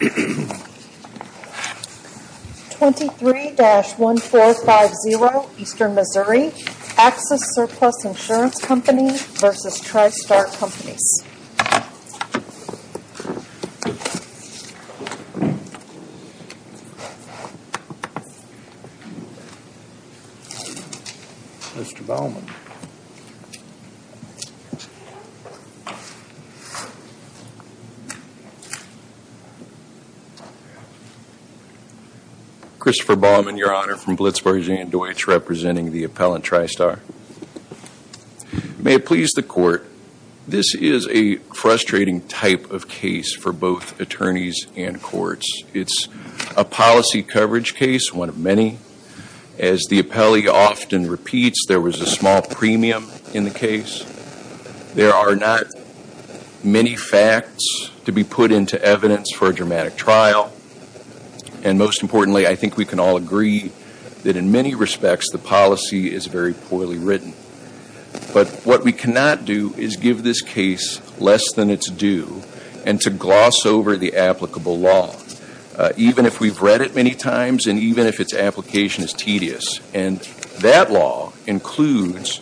23-1450 Eastern Missouri Axis Surplus Insurance Company v. TriStar Companies 23-1450 Eastern Missouri Axis Surplus Insurance Company v. TriStar Companies This is a frustrating type of case for both attorneys and courts. It's a policy coverage case, one of many. As the appellee often repeats, there was a small premium in the case. There are not many facts to be put into evidence for a dramatic trial. And most importantly, I think we can all agree that in many respects, the policy is very poorly written. But what we cannot do is give this case less than it's due and to gloss over the applicable law, even if we've read it many times and even if its application is tedious. And that law includes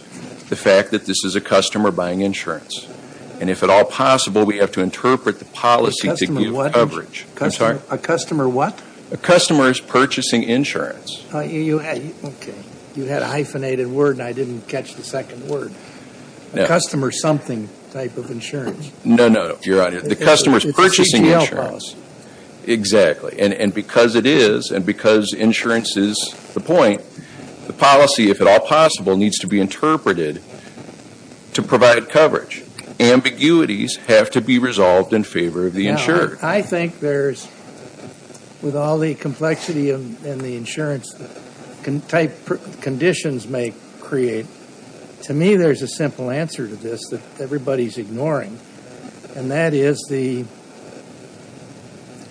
the fact that this is a customer buying insurance. And if at all possible, we have to interpret the policy to give coverage. A customer what? A customer is purchasing insurance. Okay. You had a hyphenated word and I didn't catch the second word. A customer something type of insurance. No, no. You're on it. The customer is purchasing insurance. It's a CGL clause. Exactly. And because it is and because insurance is the point, the policy, if at all possible, needs to be interpreted to provide coverage. Ambiguities have to be resolved in favor of the insurer. Now, I think there's, with all the complexity and the insurance type conditions may create, to me there's a simple answer to this that everybody's ignoring. And that is the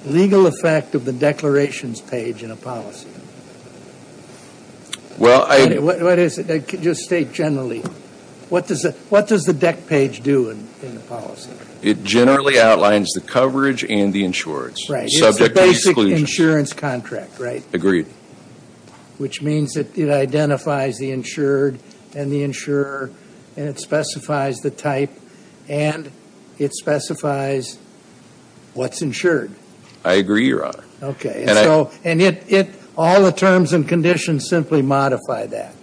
legal effect of the declarations page in a policy. Well, I What is it? Just state generally. What does the deck page do in a policy? It generally outlines the coverage and the insurance. Right. Subject to exclusion. It's a basic insurance contract, right? Agreed. Which means that it identifies the insured and the insurer and it specifies the type and it specifies what's insured. I agree, Your Honor. Okay. And so, and it, it, all the terms and conditions simply modify that.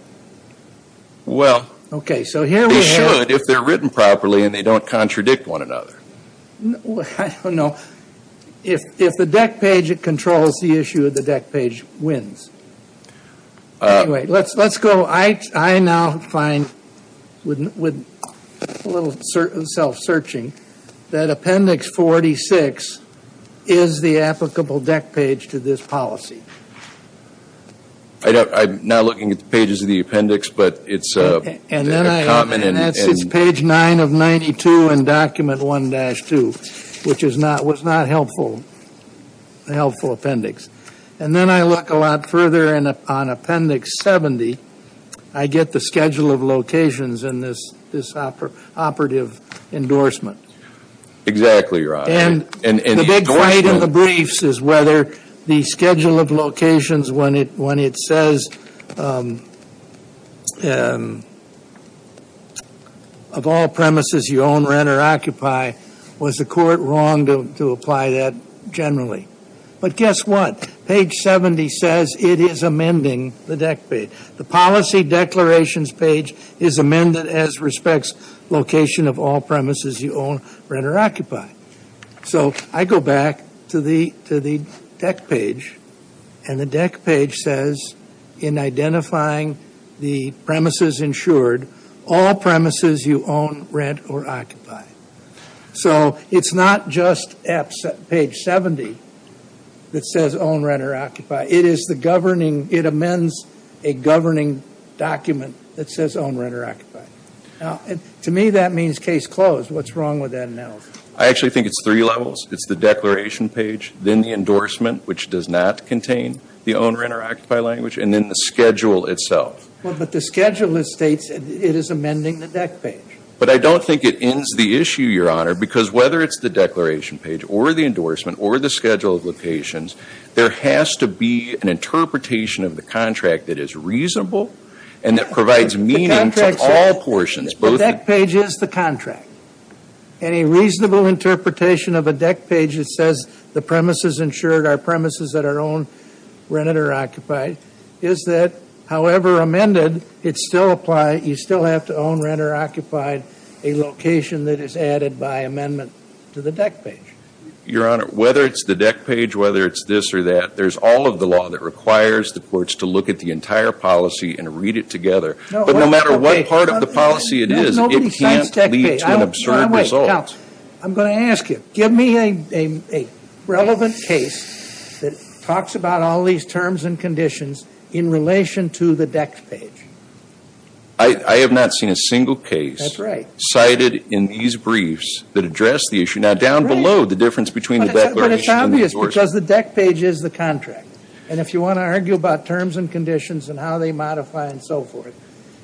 Well, Okay. So here we have Well, they could if they're written properly and they don't contradict one another. I don't know. If, if the deck page controls the issue, the deck page wins. Anyway, let's, let's go. I, I now find, with a little self-searching, that Appendix 46 is the applicable deck page to this policy. I don't, I'm not looking at the pages of the appendix, but it's a And then I And that's page 9 of 92 in Document 1-2, which is not, was not helpful, a helpful appendix. And then I look a lot further and on Appendix 70, I get the schedule of locations in this, this operative, operative endorsement. Exactly Your Honor. And And the big fight in the briefs is whether the schedule of locations when it, when it says, of all premises you own, rent, or occupy, was the court wrong to, to apply that generally? But guess what? Page 70 says it is amending the deck page. The policy declarations page is amended as respects location of all premises you own, rent, or occupy. So I go back to the, to the deck page, and the deck page says, in identifying the premises insured, all premises you own, rent, or occupy. So it's not just App, page 70 that says own, rent, or occupy. It is the governing, it amends a governing document that says own, rent, or occupy. Now, to me that means case closed. What's wrong with that analysis? I actually think it's three levels. It's the declaration page, then the endorsement, which does not contain the own, rent, or occupy language, and then the schedule itself. Well, but the schedule, it states, it is amending the deck page. But I don't think it ends the issue, Your Honor, because whether it's the declaration page, or the endorsement, or the schedule of locations, there has to be an interpretation of the contract that is reasonable and that provides meaning to all portions, both The deck page is the contract, and a reasonable interpretation of a deck page that says the premises insured are premises that are owned, rented, or occupied, is that, however amended, it still applies, you still have to own, rent, or occupy a location that is added by amendment to the deck page. Your Honor, whether it's the deck page, whether it's this or that, there's all of the law that requires the courts to look at the entire policy and read it together, but no matter what part of the policy it is, it can't lead to an absurd result. I'm going to ask you, give me a relevant case that talks about all these terms and conditions in relation to the deck page. I have not seen a single case cited in these briefs that address the issue, now down below the difference between the declaration and the endorsement. But it's obvious, because the deck page is the contract, and if you want to argue about modify and so forth,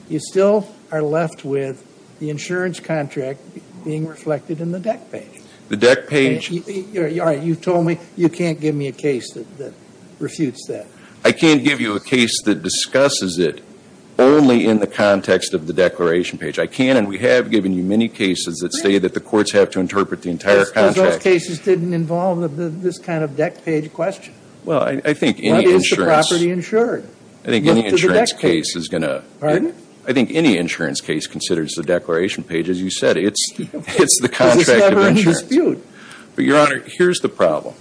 you still are left with the insurance contract being reflected in the deck page. The deck page? Your Honor, you've told me you can't give me a case that refutes that. I can't give you a case that discusses it only in the context of the declaration page. I can't, and we have given you many cases that say that the courts have to interpret the entire contract. Those cases didn't involve this kind of deck page question. Well, I think any insurance. What is the property insured? I think any insurance case considers the declaration page, as you said. It's the contract of insurance. Because it's never in dispute. But, Your Honor, here's the problem.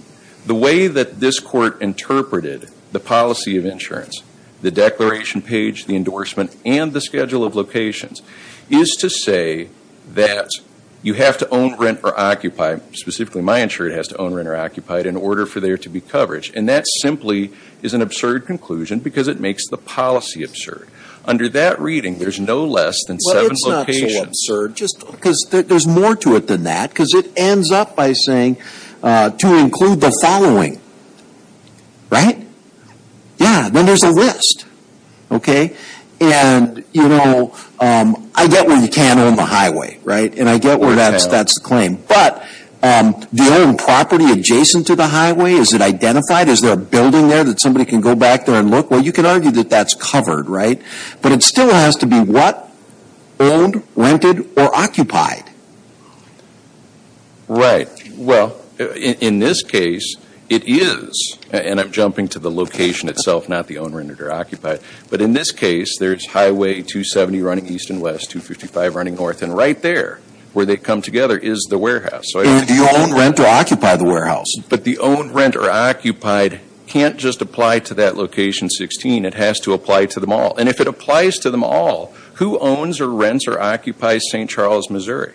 The way that this Court interpreted the policy of insurance, the declaration page, the endorsement, and the schedule of locations, is to say that you have to own, rent, or occupy, specifically my insurer has to own, rent, or occupy it in order for there to be coverage. And that simply is an absurd conclusion, because it makes the policy absurd. Under that reading, there's no less than seven locations. Well, it's not so absurd, just because there's more to it than that, because it ends up by saying to include the following, right? Yeah, then there's a list, okay? And, you know, I get where you can't own the highway, right? And I get where that's the claim. But, the owned property adjacent to the highway, is it identified? Is there a building there that somebody can go back there and look? Well, you can argue that that's covered, right? But it still has to be what? Owned, rented, or occupied? Right. Well, in this case, it is. And I'm jumping to the location itself, not the owned, rented, or occupied. But in this case, there's Highway 270 running east and west, 255 running north. And right there, where they come together, is the warehouse. So I don't know. Do you own, rent, or occupy the warehouse? But the owned, rent, or occupied can't just apply to that location 16. It has to apply to them all. And if it applies to them all, who owns, or rents, or occupies St. Charles, Missouri?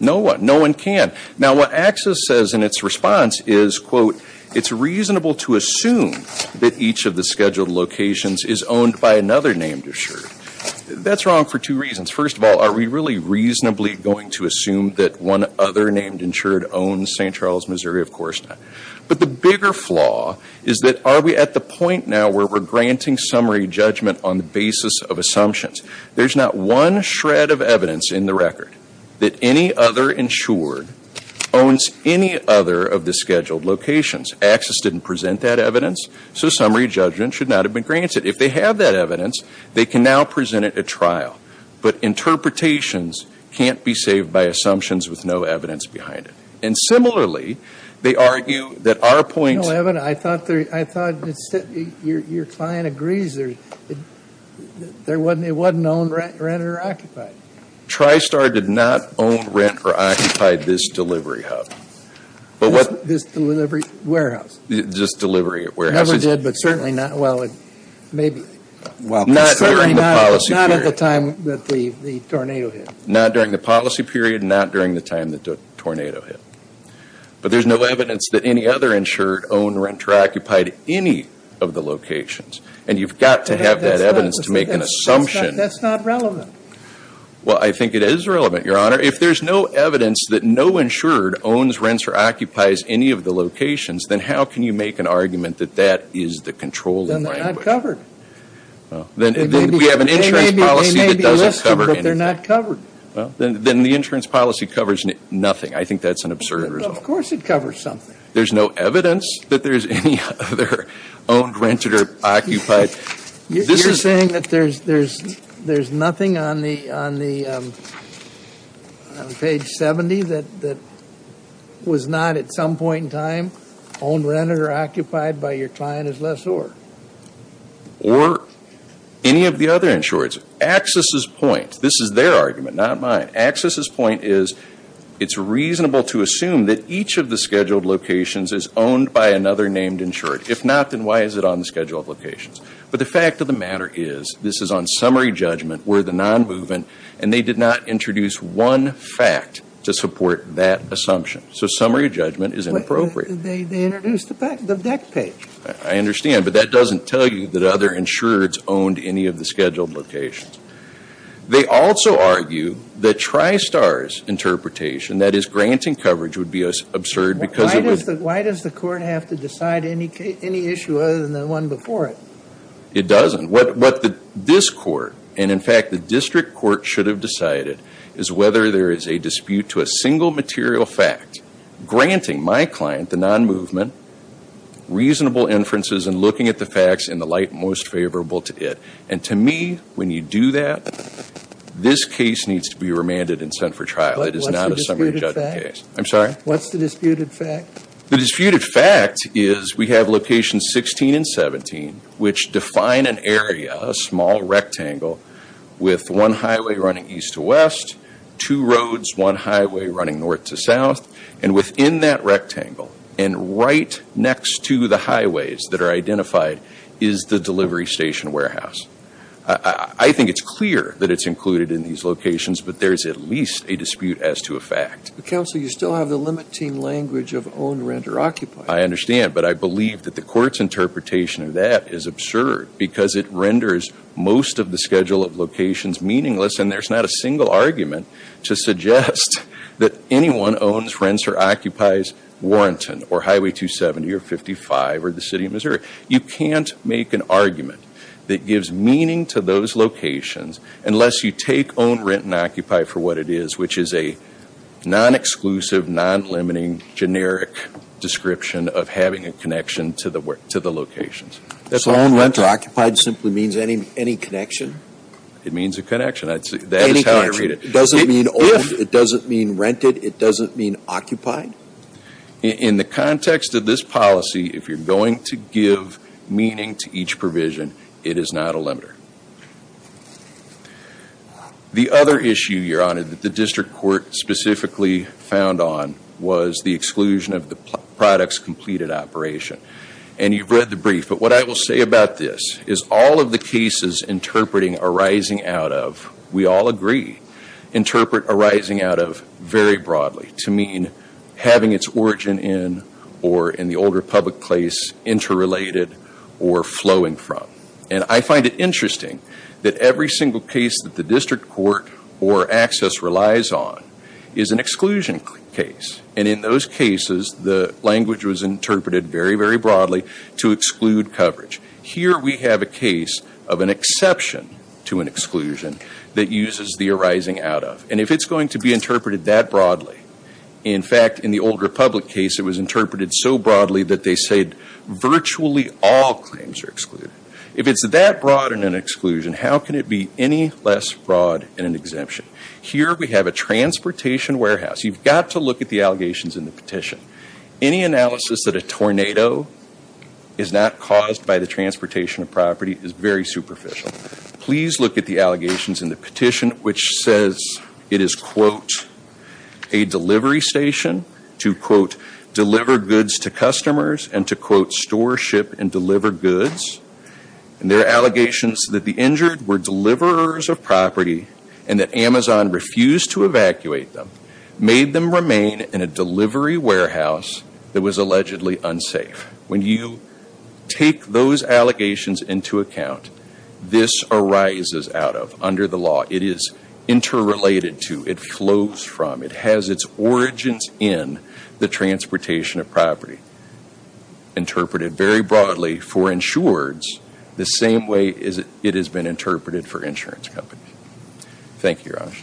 No one. No one can. Now, what AXIS says in its response is, quote, it's reasonable to assume that each of the scheduled locations is owned by another name to assure. That's wrong for two reasons. First of all, are we really reasonably going to assume that one other named insured owns St. Charles, Missouri? Of course not. But the bigger flaw is that are we at the point now where we're granting summary judgment on the basis of assumptions? There's not one shred of evidence in the record that any other insured owns any other of the scheduled locations. AXIS didn't present that evidence. So summary judgment should not have been granted. If they have that evidence, they can now present it at trial. But interpretations can't be saved by assumptions with no evidence behind it. And similarly, they argue that our point No, Evan, I thought your client agrees there wasn't owned, rent, or occupied. TriStar did not own, rent, or occupy this delivery hub. This delivery warehouse. This delivery warehouse. It never did, but certainly not, well, maybe. Not during the policy period. Not at the time that the tornado hit. Not during the policy period, not during the time the tornado hit. But there's no evidence that any other insured owned, rent, or occupied any of the locations. And you've got to have that evidence to make an assumption. That's not relevant. Well, I think it is relevant, Your Honor. If there's no evidence that no insured owns, rents, or occupies any of the locations, then how can you make an argument that that is the controlling language? Well, then they're not covered. Well, then we have an insurance policy that doesn't cover anything. They may be listed, but they're not covered. Well, then the insurance policy covers nothing. I think that's an absurd result. Well, of course it covers something. There's no evidence that there's any other owned, rented, or occupied. You're saying that there's nothing on the page 70 that was not at some point in time owned, rented, or occupied by your client as lessor? Or any of the other insureds. Axis's point, this is their argument, not mine. Axis's point is it's reasonable to assume that each of the scheduled locations is owned by another named insured. If not, then why is it on the scheduled locations? But the fact of the matter is this is on summary judgment where the non-movement, and they did not introduce one fact to support that assumption. So summary judgment is inappropriate. They introduced the deck page. I understand. But that doesn't tell you that other insureds owned any of the scheduled locations. They also argue that Tristar's interpretation, that is granting coverage, would be absurd because it would Why does the court have to decide any issue other than the one before it? It doesn't. What this court, and in fact the district court should have decided, is whether there is a dispute to a single material fact granting my client, the non-movement, reasonable inferences and looking at the facts in the light most favorable to it. And to me, when you do that, this case needs to be remanded and sent for trial. It is not a summary judgment case. What's the disputed fact? I'm sorry? What's the disputed fact? The disputed fact is we have locations 16 and 17, which define an area, a small rectangle, with one highway running east to west, two roads, one highway running north to south. And within that rectangle and right next to the highways that are identified is the delivery station warehouse. I think it's clear that it's included in these locations, but there is at least a dispute as to a fact. Counsel, you still have the limiting language of owned, rent, or occupied. I understand, but I believe that the court's interpretation of that is absurd because it renders most of the schedule of locations meaningless, and there's not a single argument to suggest that anyone owns, rents, or occupies Warrington or Highway 270 or 55 or the City of Missouri. You can't make an argument that gives meaning to those locations unless you take own, rent, and occupy for what it is, which is a non-exclusive, non-limiting, generic description of having a connection to the locations. Own, rent, or occupied simply means any connection? It means a connection. That is how I read it. It doesn't mean owned, it doesn't mean rented, it doesn't mean occupied? In the context of this policy, if you're going to give meaning to each provision, it is not a limiter. The other issue, Your Honor, that the district court specifically found on was the exclusion of the products completed operation. And you've read the brief, but what I will say about this is all of the cases interpreting arising out of, we all agree, interpret arising out of very broadly to mean having its origin in or in the older public place interrelated or flowing from. And I find it interesting that every single case that the district court or access relies on is an exclusion case. And in those cases, the language was interpreted very, very broadly to exclude coverage. Here we have a case of an exception to an exclusion that uses the arising out of. And if it's going to be interpreted that broadly, in fact, in the older public case, it was interpreted so broadly that they said virtually all claims are excluded. If it's that broad in an exclusion, how can it be any less broad in an exemption? Here we have a transportation warehouse. You've got to look at the allegations in the petition. Any analysis that a tornado is not caused by the transportation of property is very superficial. Please look at the allegations in the petition, which says it is, quote, a delivery station to, quote, deliver goods to customers and to, quote, store, ship, and deliver goods. And there are allegations that the injured were deliverers of property and that Amazon refused to evacuate them, made them remain in a delivery warehouse that was allegedly unsafe. When you take those allegations into account, this arises out of under the law. It is interrelated to, it flows from, it has its origins in the transportation of property interpreted very broadly for insureds the same way it has been interpreted for insurance companies. Thank you, Raj.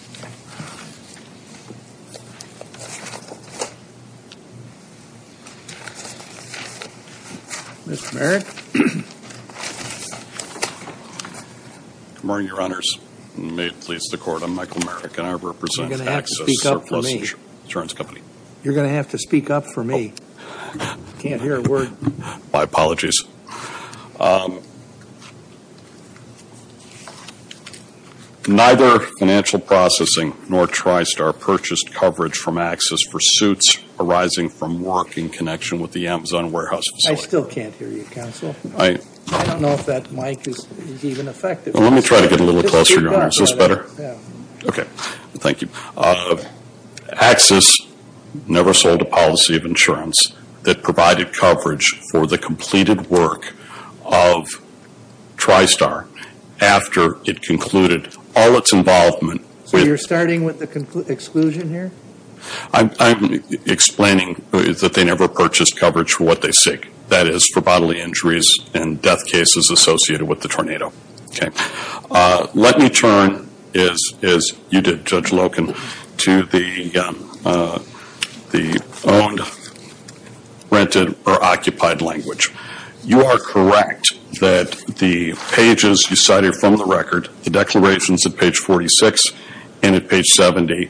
Mr. Merrick. Good morning, Your Honors, and may it please the Court, I'm Michael Merrick, and I represent Access Services Insurance Company. You're going to have to speak up for me. You're going to have to speak up for me. I can't hear a word. My apologies. Neither financial processing nor TriStar purchased coverage from Access for suits arising from work in connection with the Amazon warehouse facility. I still can't hear you, Counsel. I don't know if that mic is even effective. Let me try to get a little closer, Your Honor. Is this better? Okay. Thank you. Access never sold a policy of insurance that provided coverage for the completed work of TriStar after it concluded all its involvement. So you're starting with the exclusion here? I'm explaining that they never purchased coverage for what they seek, that is for bodily injuries and death cases associated with the tornado. Okay. Let me turn, as you did, Judge Loken, to the owned, rented, or occupied language. You are correct that the pages you cited from the record, the declarations at page 46 and at page 70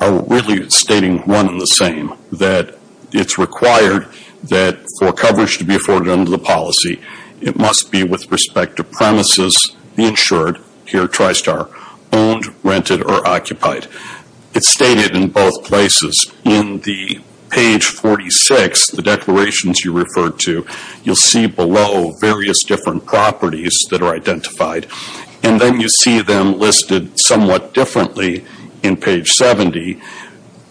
are really stating one and the same, that it's required that for coverage to be afforded under the policy, it must be with respect to premises, the insured, here TriStar, owned, rented, or occupied. It's stated in both places. In the page 46, the declarations you referred to, you'll see below various different properties that are identified, and then you see them listed somewhat differently in page 70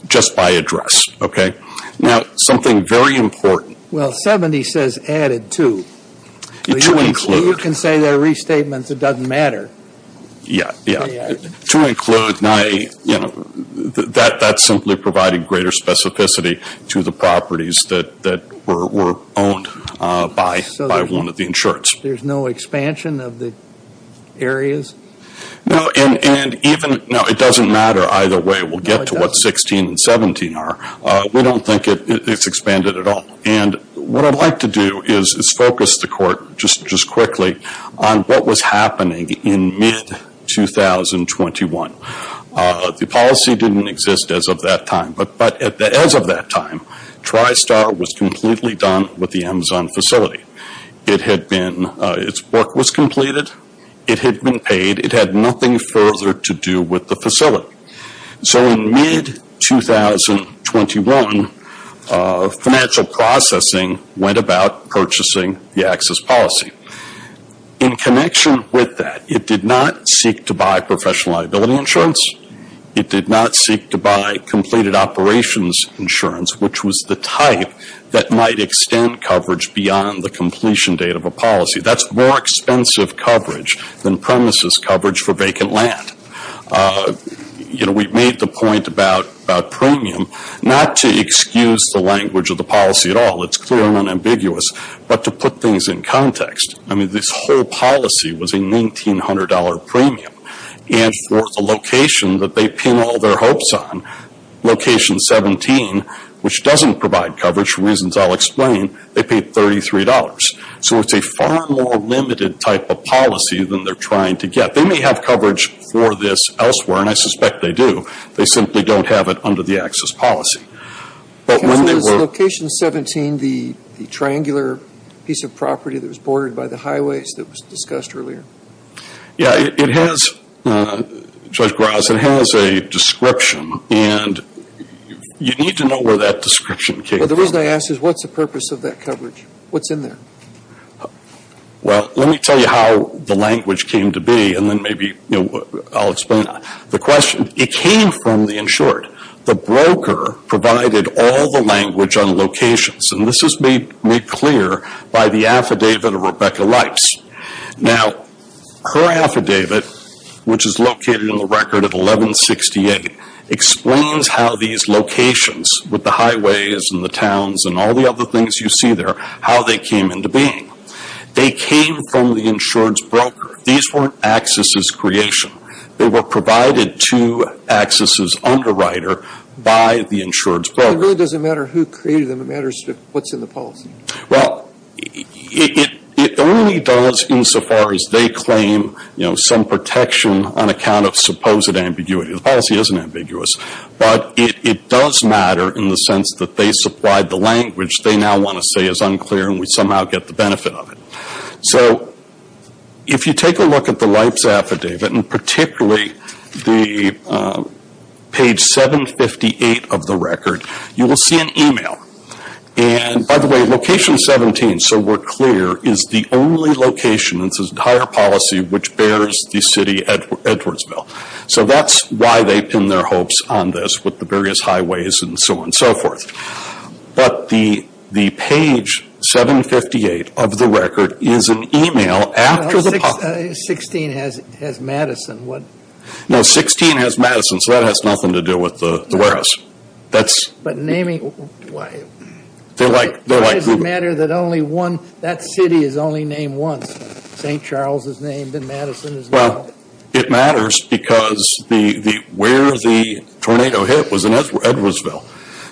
just by address. Okay? Now, something very important. Well, 70 says added to. To include. You can say they're restatements, it doesn't matter. Yeah, yeah. To include, that simply provided greater specificity to the properties that were owned by one of the insureds. There's no expansion of the areas? No, and even, no, it doesn't matter either way. We'll get to what 16 and 17 are. We don't think it's expanded at all. And what I'd like to do is focus the court just quickly on what was happening in mid-2021. The policy didn't exist as of that time. But as of that time, TriStar was completely done with the Amazon facility. Its work was completed. It had been paid. It had nothing further to do with the facility. So in mid-2021, financial processing went about purchasing the access policy. In connection with that, it did not seek to buy professional liability insurance. It did not seek to buy completed operations insurance, which was the type that might extend coverage beyond the completion date of a policy. That's more expensive coverage than premises coverage for vacant land. We've made the point about premium, not to excuse the language of the policy at all. It's clearly unambiguous. But to put things in context, this whole policy was a $1,900 premium. And for the location that they pin all their hopes on, Location 17, which doesn't provide coverage, for reasons I'll explain, they paid $33. So it's a far more limited type of policy than they're trying to get. They may have coverage for this elsewhere, and I suspect they do. They simply don't have it under the access policy. But when they were – Is Location 17 the triangular piece of property that was bordered by the highways that was discussed earlier? Yeah. It has, Judge Graz, it has a description. And you need to know where that description came from. Well, the reason I ask is what's the purpose of that coverage? What's in there? Well, let me tell you how the language came to be, and then maybe I'll explain. The question, it came from the insured. The broker provided all the language on locations. And this is made clear by the affidavit of Rebecca Leitz. Now, her affidavit, which is located in the record of 1168, explains how these locations with the highways and the towns and all the other things you see there, how they came into being. They came from the insured's broker. These weren't access's creation. They were provided to access's underwriter by the insured's broker. It really doesn't matter who created them. It matters what's in the policy. Well, it only does insofar as they claim, you know, some protection on account of supposed ambiguity. The policy isn't ambiguous. But it does matter in the sense that they supplied the language they now want to say is unclear and we somehow get the benefit of it. So, if you take a look at the Leitz affidavit, and particularly the page 758 of the record, you will see an email. And, by the way, location 17, so we're clear, is the only location in this entire policy which bears the city of Edwardsville. So that's why they pin their hopes on this with the various highways and so on and so forth. But the page 758 of the record is an email after the policy. 16 has Madison. No, 16 has Madison, so that has nothing to do with the warehouse. But naming, why? They're like Google. Why does it matter that only one, that city is only named once? St. Charles is named and Madison is named. Well, it matters because where the tornado hit was in Edwardsville.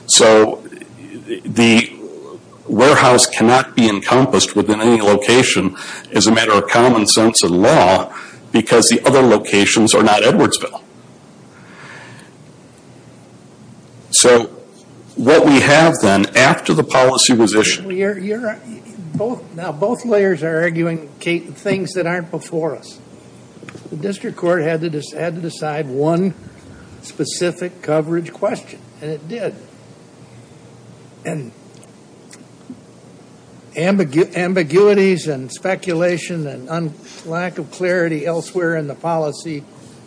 So the warehouse cannot be encompassed within any location as a matter of common sense and law because the other locations are not Edwardsville. So what we have then, after the policy was issued. Now, both layers are arguing, Kate, things that aren't before us. The district court had to decide one specific coverage question, and it did. And ambiguities and speculation and lack of clarity elsewhere in the policy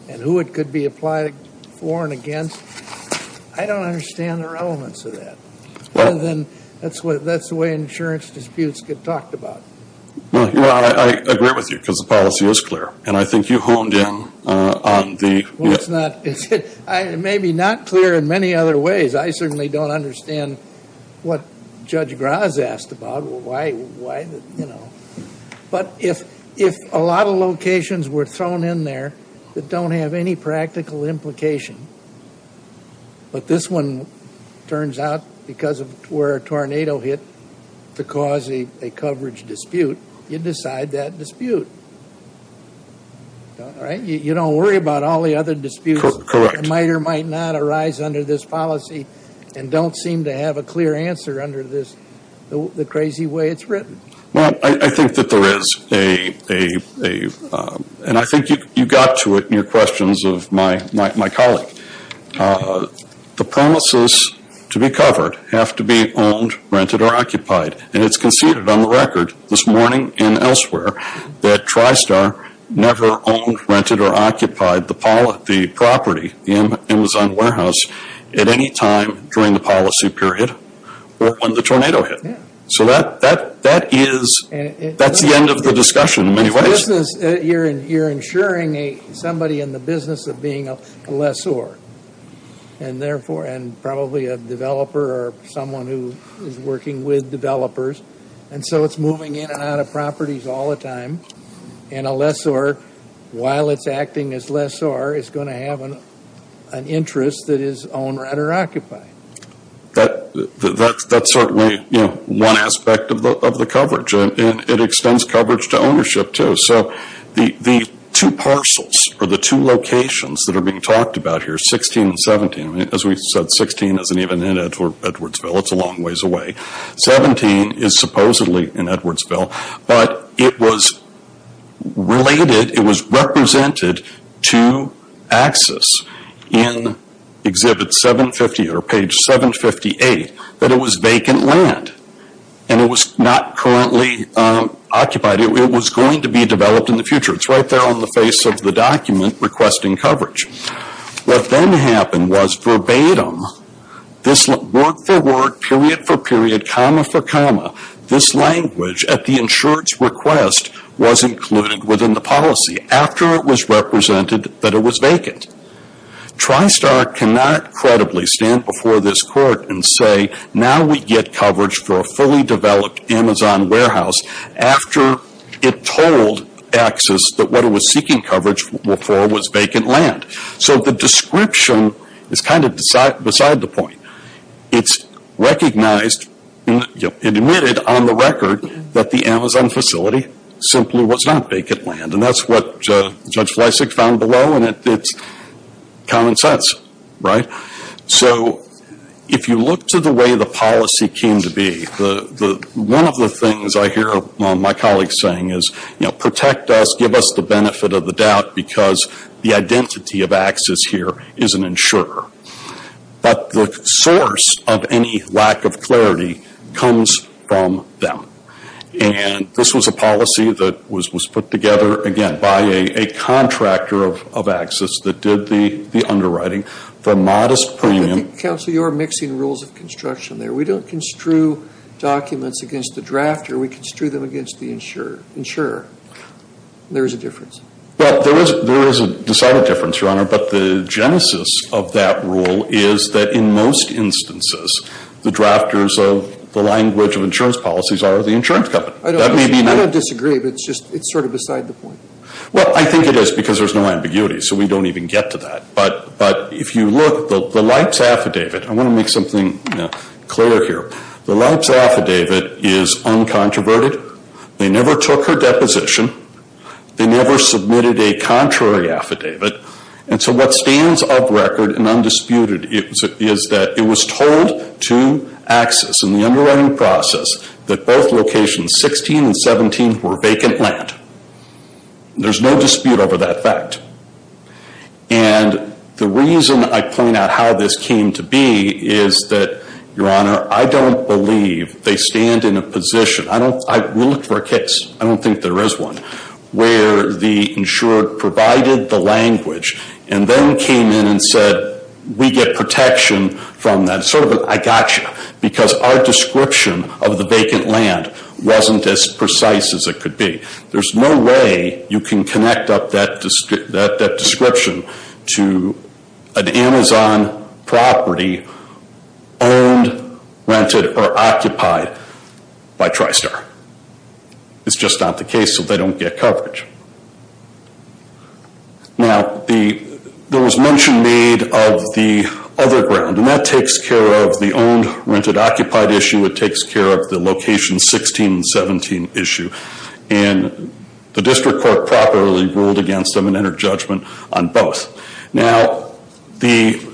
and who it could be applied for and against. I don't understand the relevance of that. That's the way insurance disputes get talked about. Well, I agree with you because the policy is clear. And I think you honed in on the... Well, it's not... It may be not clear in many other ways. I certainly don't understand what Judge Graz asked about. Why? But if a lot of locations were thrown in there that don't have any practical implication, but this one turns out because of where a tornado hit to cause a coverage dispute, you decide that dispute. All right? You don't worry about all the other disputes that might or might not arise under this policy and don't seem to have a clear answer under this. The crazy way it's written. Well, I think that there is a... And I think you got to it in your questions of my colleague. The promises to be covered have to be owned, rented, or occupied. And it's conceded on the record this morning and elsewhere that TriStar never owned, rented, or occupied the property, the Amazon warehouse, at any time during the policy period or when the tornado hit. Yeah. So that is... That's the end of the discussion in many ways. You're insuring somebody in the business of being a lessor and probably a developer or someone who is working with developers. And so it's moving in and out of properties all the time. And a lessor, while it's acting as lessor, is going to have an interest that is owned, rented, or occupied. That's certainly one aspect of the coverage. And it extends coverage to ownership, too. So the two parcels or the two locations that are being talked about here, 16 and 17... As we said, 16 isn't even in Edwardsville. It's a long ways away. 17 is supposedly in Edwardsville. But it was related, it was represented to access in exhibit 750 or page 758, that it was vacant land. And it was not currently occupied. It was going to be developed in the future. It's right there on the face of the document requesting coverage. What then happened was verbatim, this word for word, period for period, comma for comma, this language at the insurance request was included within the policy after it was represented that it was vacant. TriStar cannot credibly stand before this court and say, now we get coverage for a fully developed Amazon warehouse after it told access that what it was seeking coverage for was vacant land. So the description is kind of beside the point. It's recognized, admitted on the record, that the Amazon facility simply was not vacant land. And that's what Judge Fleisig found below, and it's common sense. So if you look to the way the policy came to be, one of the things I hear my colleagues saying is, you know, protect us, give us the benefit of the doubt because the identity of access here is an insurer. But the source of any lack of clarity comes from them. And this was a policy that was put together, again, by a contractor of access that did the underwriting for modest premium. I think, counsel, you're mixing rules of construction there. We don't construe documents against the drafter. We construe them against the insurer. There is a difference. Well, there is a decided difference, Your Honor, but the genesis of that rule is that in most instances, the drafters of the language of insurance policies are the insurance company. I don't disagree, but it's sort of beside the point. Well, I think it is because there's no ambiguity, so we don't even get to that. But if you look, the LIHPS affidavit, I want to make something clear here. The LIHPS affidavit is uncontroverted. They never took her deposition. They never submitted a contrary affidavit. And so what stands of record and undisputed is that it was told to access in the underwriting process that both locations, 16 and 17, were vacant land. There's no dispute over that fact. And the reason I point out how this came to be is that, Your Honor, I don't believe they stand in a position. We looked for a case. I don't think there is one where the insurer provided the language and then came in and said, we get protection from that. Sort of an I got you, because our description of the vacant land wasn't as precise as it could be. There's no way you can connect up that description to an Amazon property owned, rented, or occupied by TriStar. It's just not the case, so they don't get coverage. Now, there was mention made of the other ground, and that takes care of the owned, rented, occupied issue. It takes care of the location 16 and 17 issue. And the district court properly ruled against them and entered judgment on both. Now, the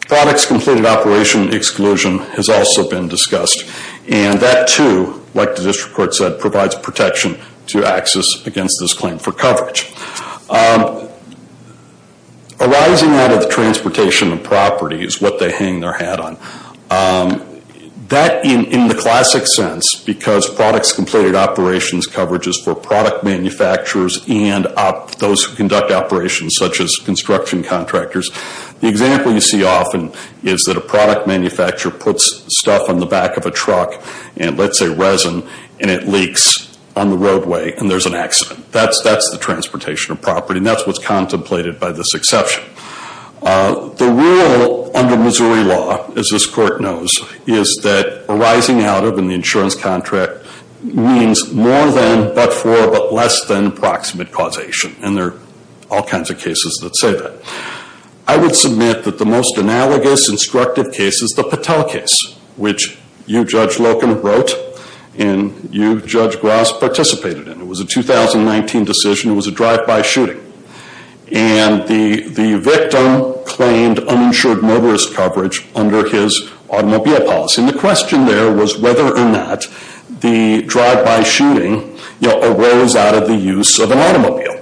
products completed operation exclusion has also been discussed. And that, too, like the district court said, provides protection to access against this claim for coverage. Arising out of the transportation of property is what they hang their hat on. That, in the classic sense, because products completed operations coverage is for product manufacturers and those who conduct operations, such as construction contractors. The example you see often is that a product manufacturer puts stuff on the back of a truck, and let's say resin, and it leaks on the roadway and there's an accident. That's the transportation of property, and that's what's contemplated by this exception. The rule under Missouri law, as this court knows, is that arising out of an insurance contract means more than, but for, but less than proximate causation. And there are all kinds of cases that say that. I would submit that the most analogous instructive case is the Patel case, which you, Judge Loken, wrote, and you, Judge Gross, participated in. It was a 2019 decision. It was a drive-by shooting. And the victim claimed uninsured motorist coverage under his automobile policy. And the question there was whether or not the drive-by shooting arose out of the use of an automobile.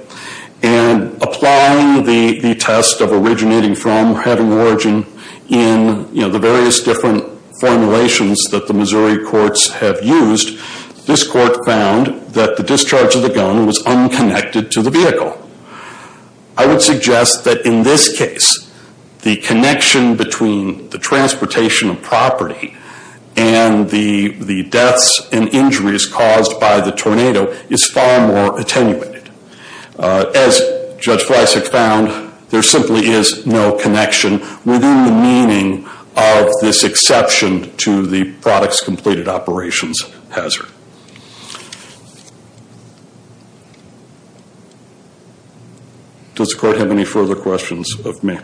And applying the test of originating from, having origin in, you know, the various different formulations that the Missouri courts have used, this court found that the discharge of the gun was unconnected to the vehicle. I would suggest that in this case, the connection between the transportation of property and the deaths and injuries caused by the tornado is far more attenuated. As Judge Fleisig found, there simply is no connection within the meaning of this exception to the product's completed operations hazard. Does the court have any further questions of me?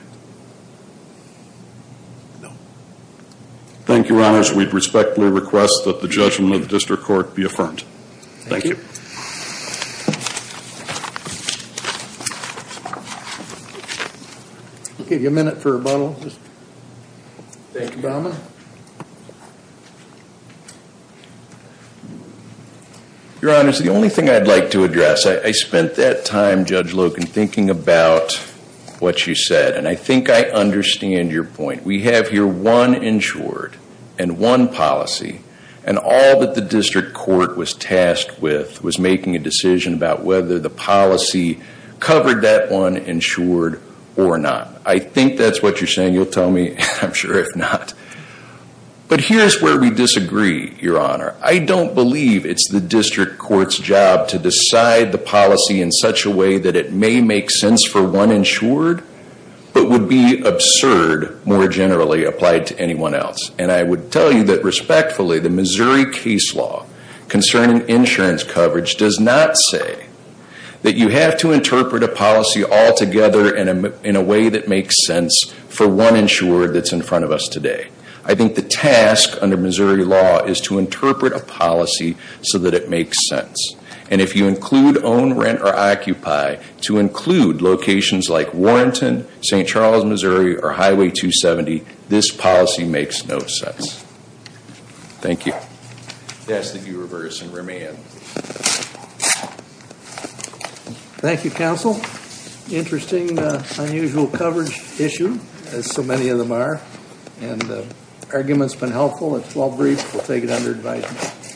Thank you, Your Honors. We respectfully request that the judgment of the district court be affirmed. Thank you. We'll give you a minute for rebuttal. Thank you, Bowman. Your Honors, the only thing I'd like to address, I spent that time, Judge Loken, thinking about what you said. And I think I understand your point. We have here one insured and one policy. And all that the district court was tasked with was making a decision about whether the policy covered that one insured or not. I think that's what you're saying. You'll tell me. I'm sure if not. But here's where we disagree, Your Honor. I don't believe it's the district court's job to decide the policy in such a way that it may make sense for one insured, but would be absurd more generally applied to anyone else. And I would tell you that respectfully, the Missouri case law concerning insurance coverage does not say that you have to interpret a policy altogether in a way that makes sense for one insured that's in front of us today. I think the task under Missouri law is to interpret a policy so that it makes sense. And if you include own, rent, or occupy to include locations like Warrington, St. Charles, Missouri, or Highway 270, this policy makes no sense. Thank you. I ask that you reverse and remand. Thank you, Counsel. Interesting, unusual coverage issue, as so many of them are. And the argument's been helpful. It's well briefed. We'll take it under advisement.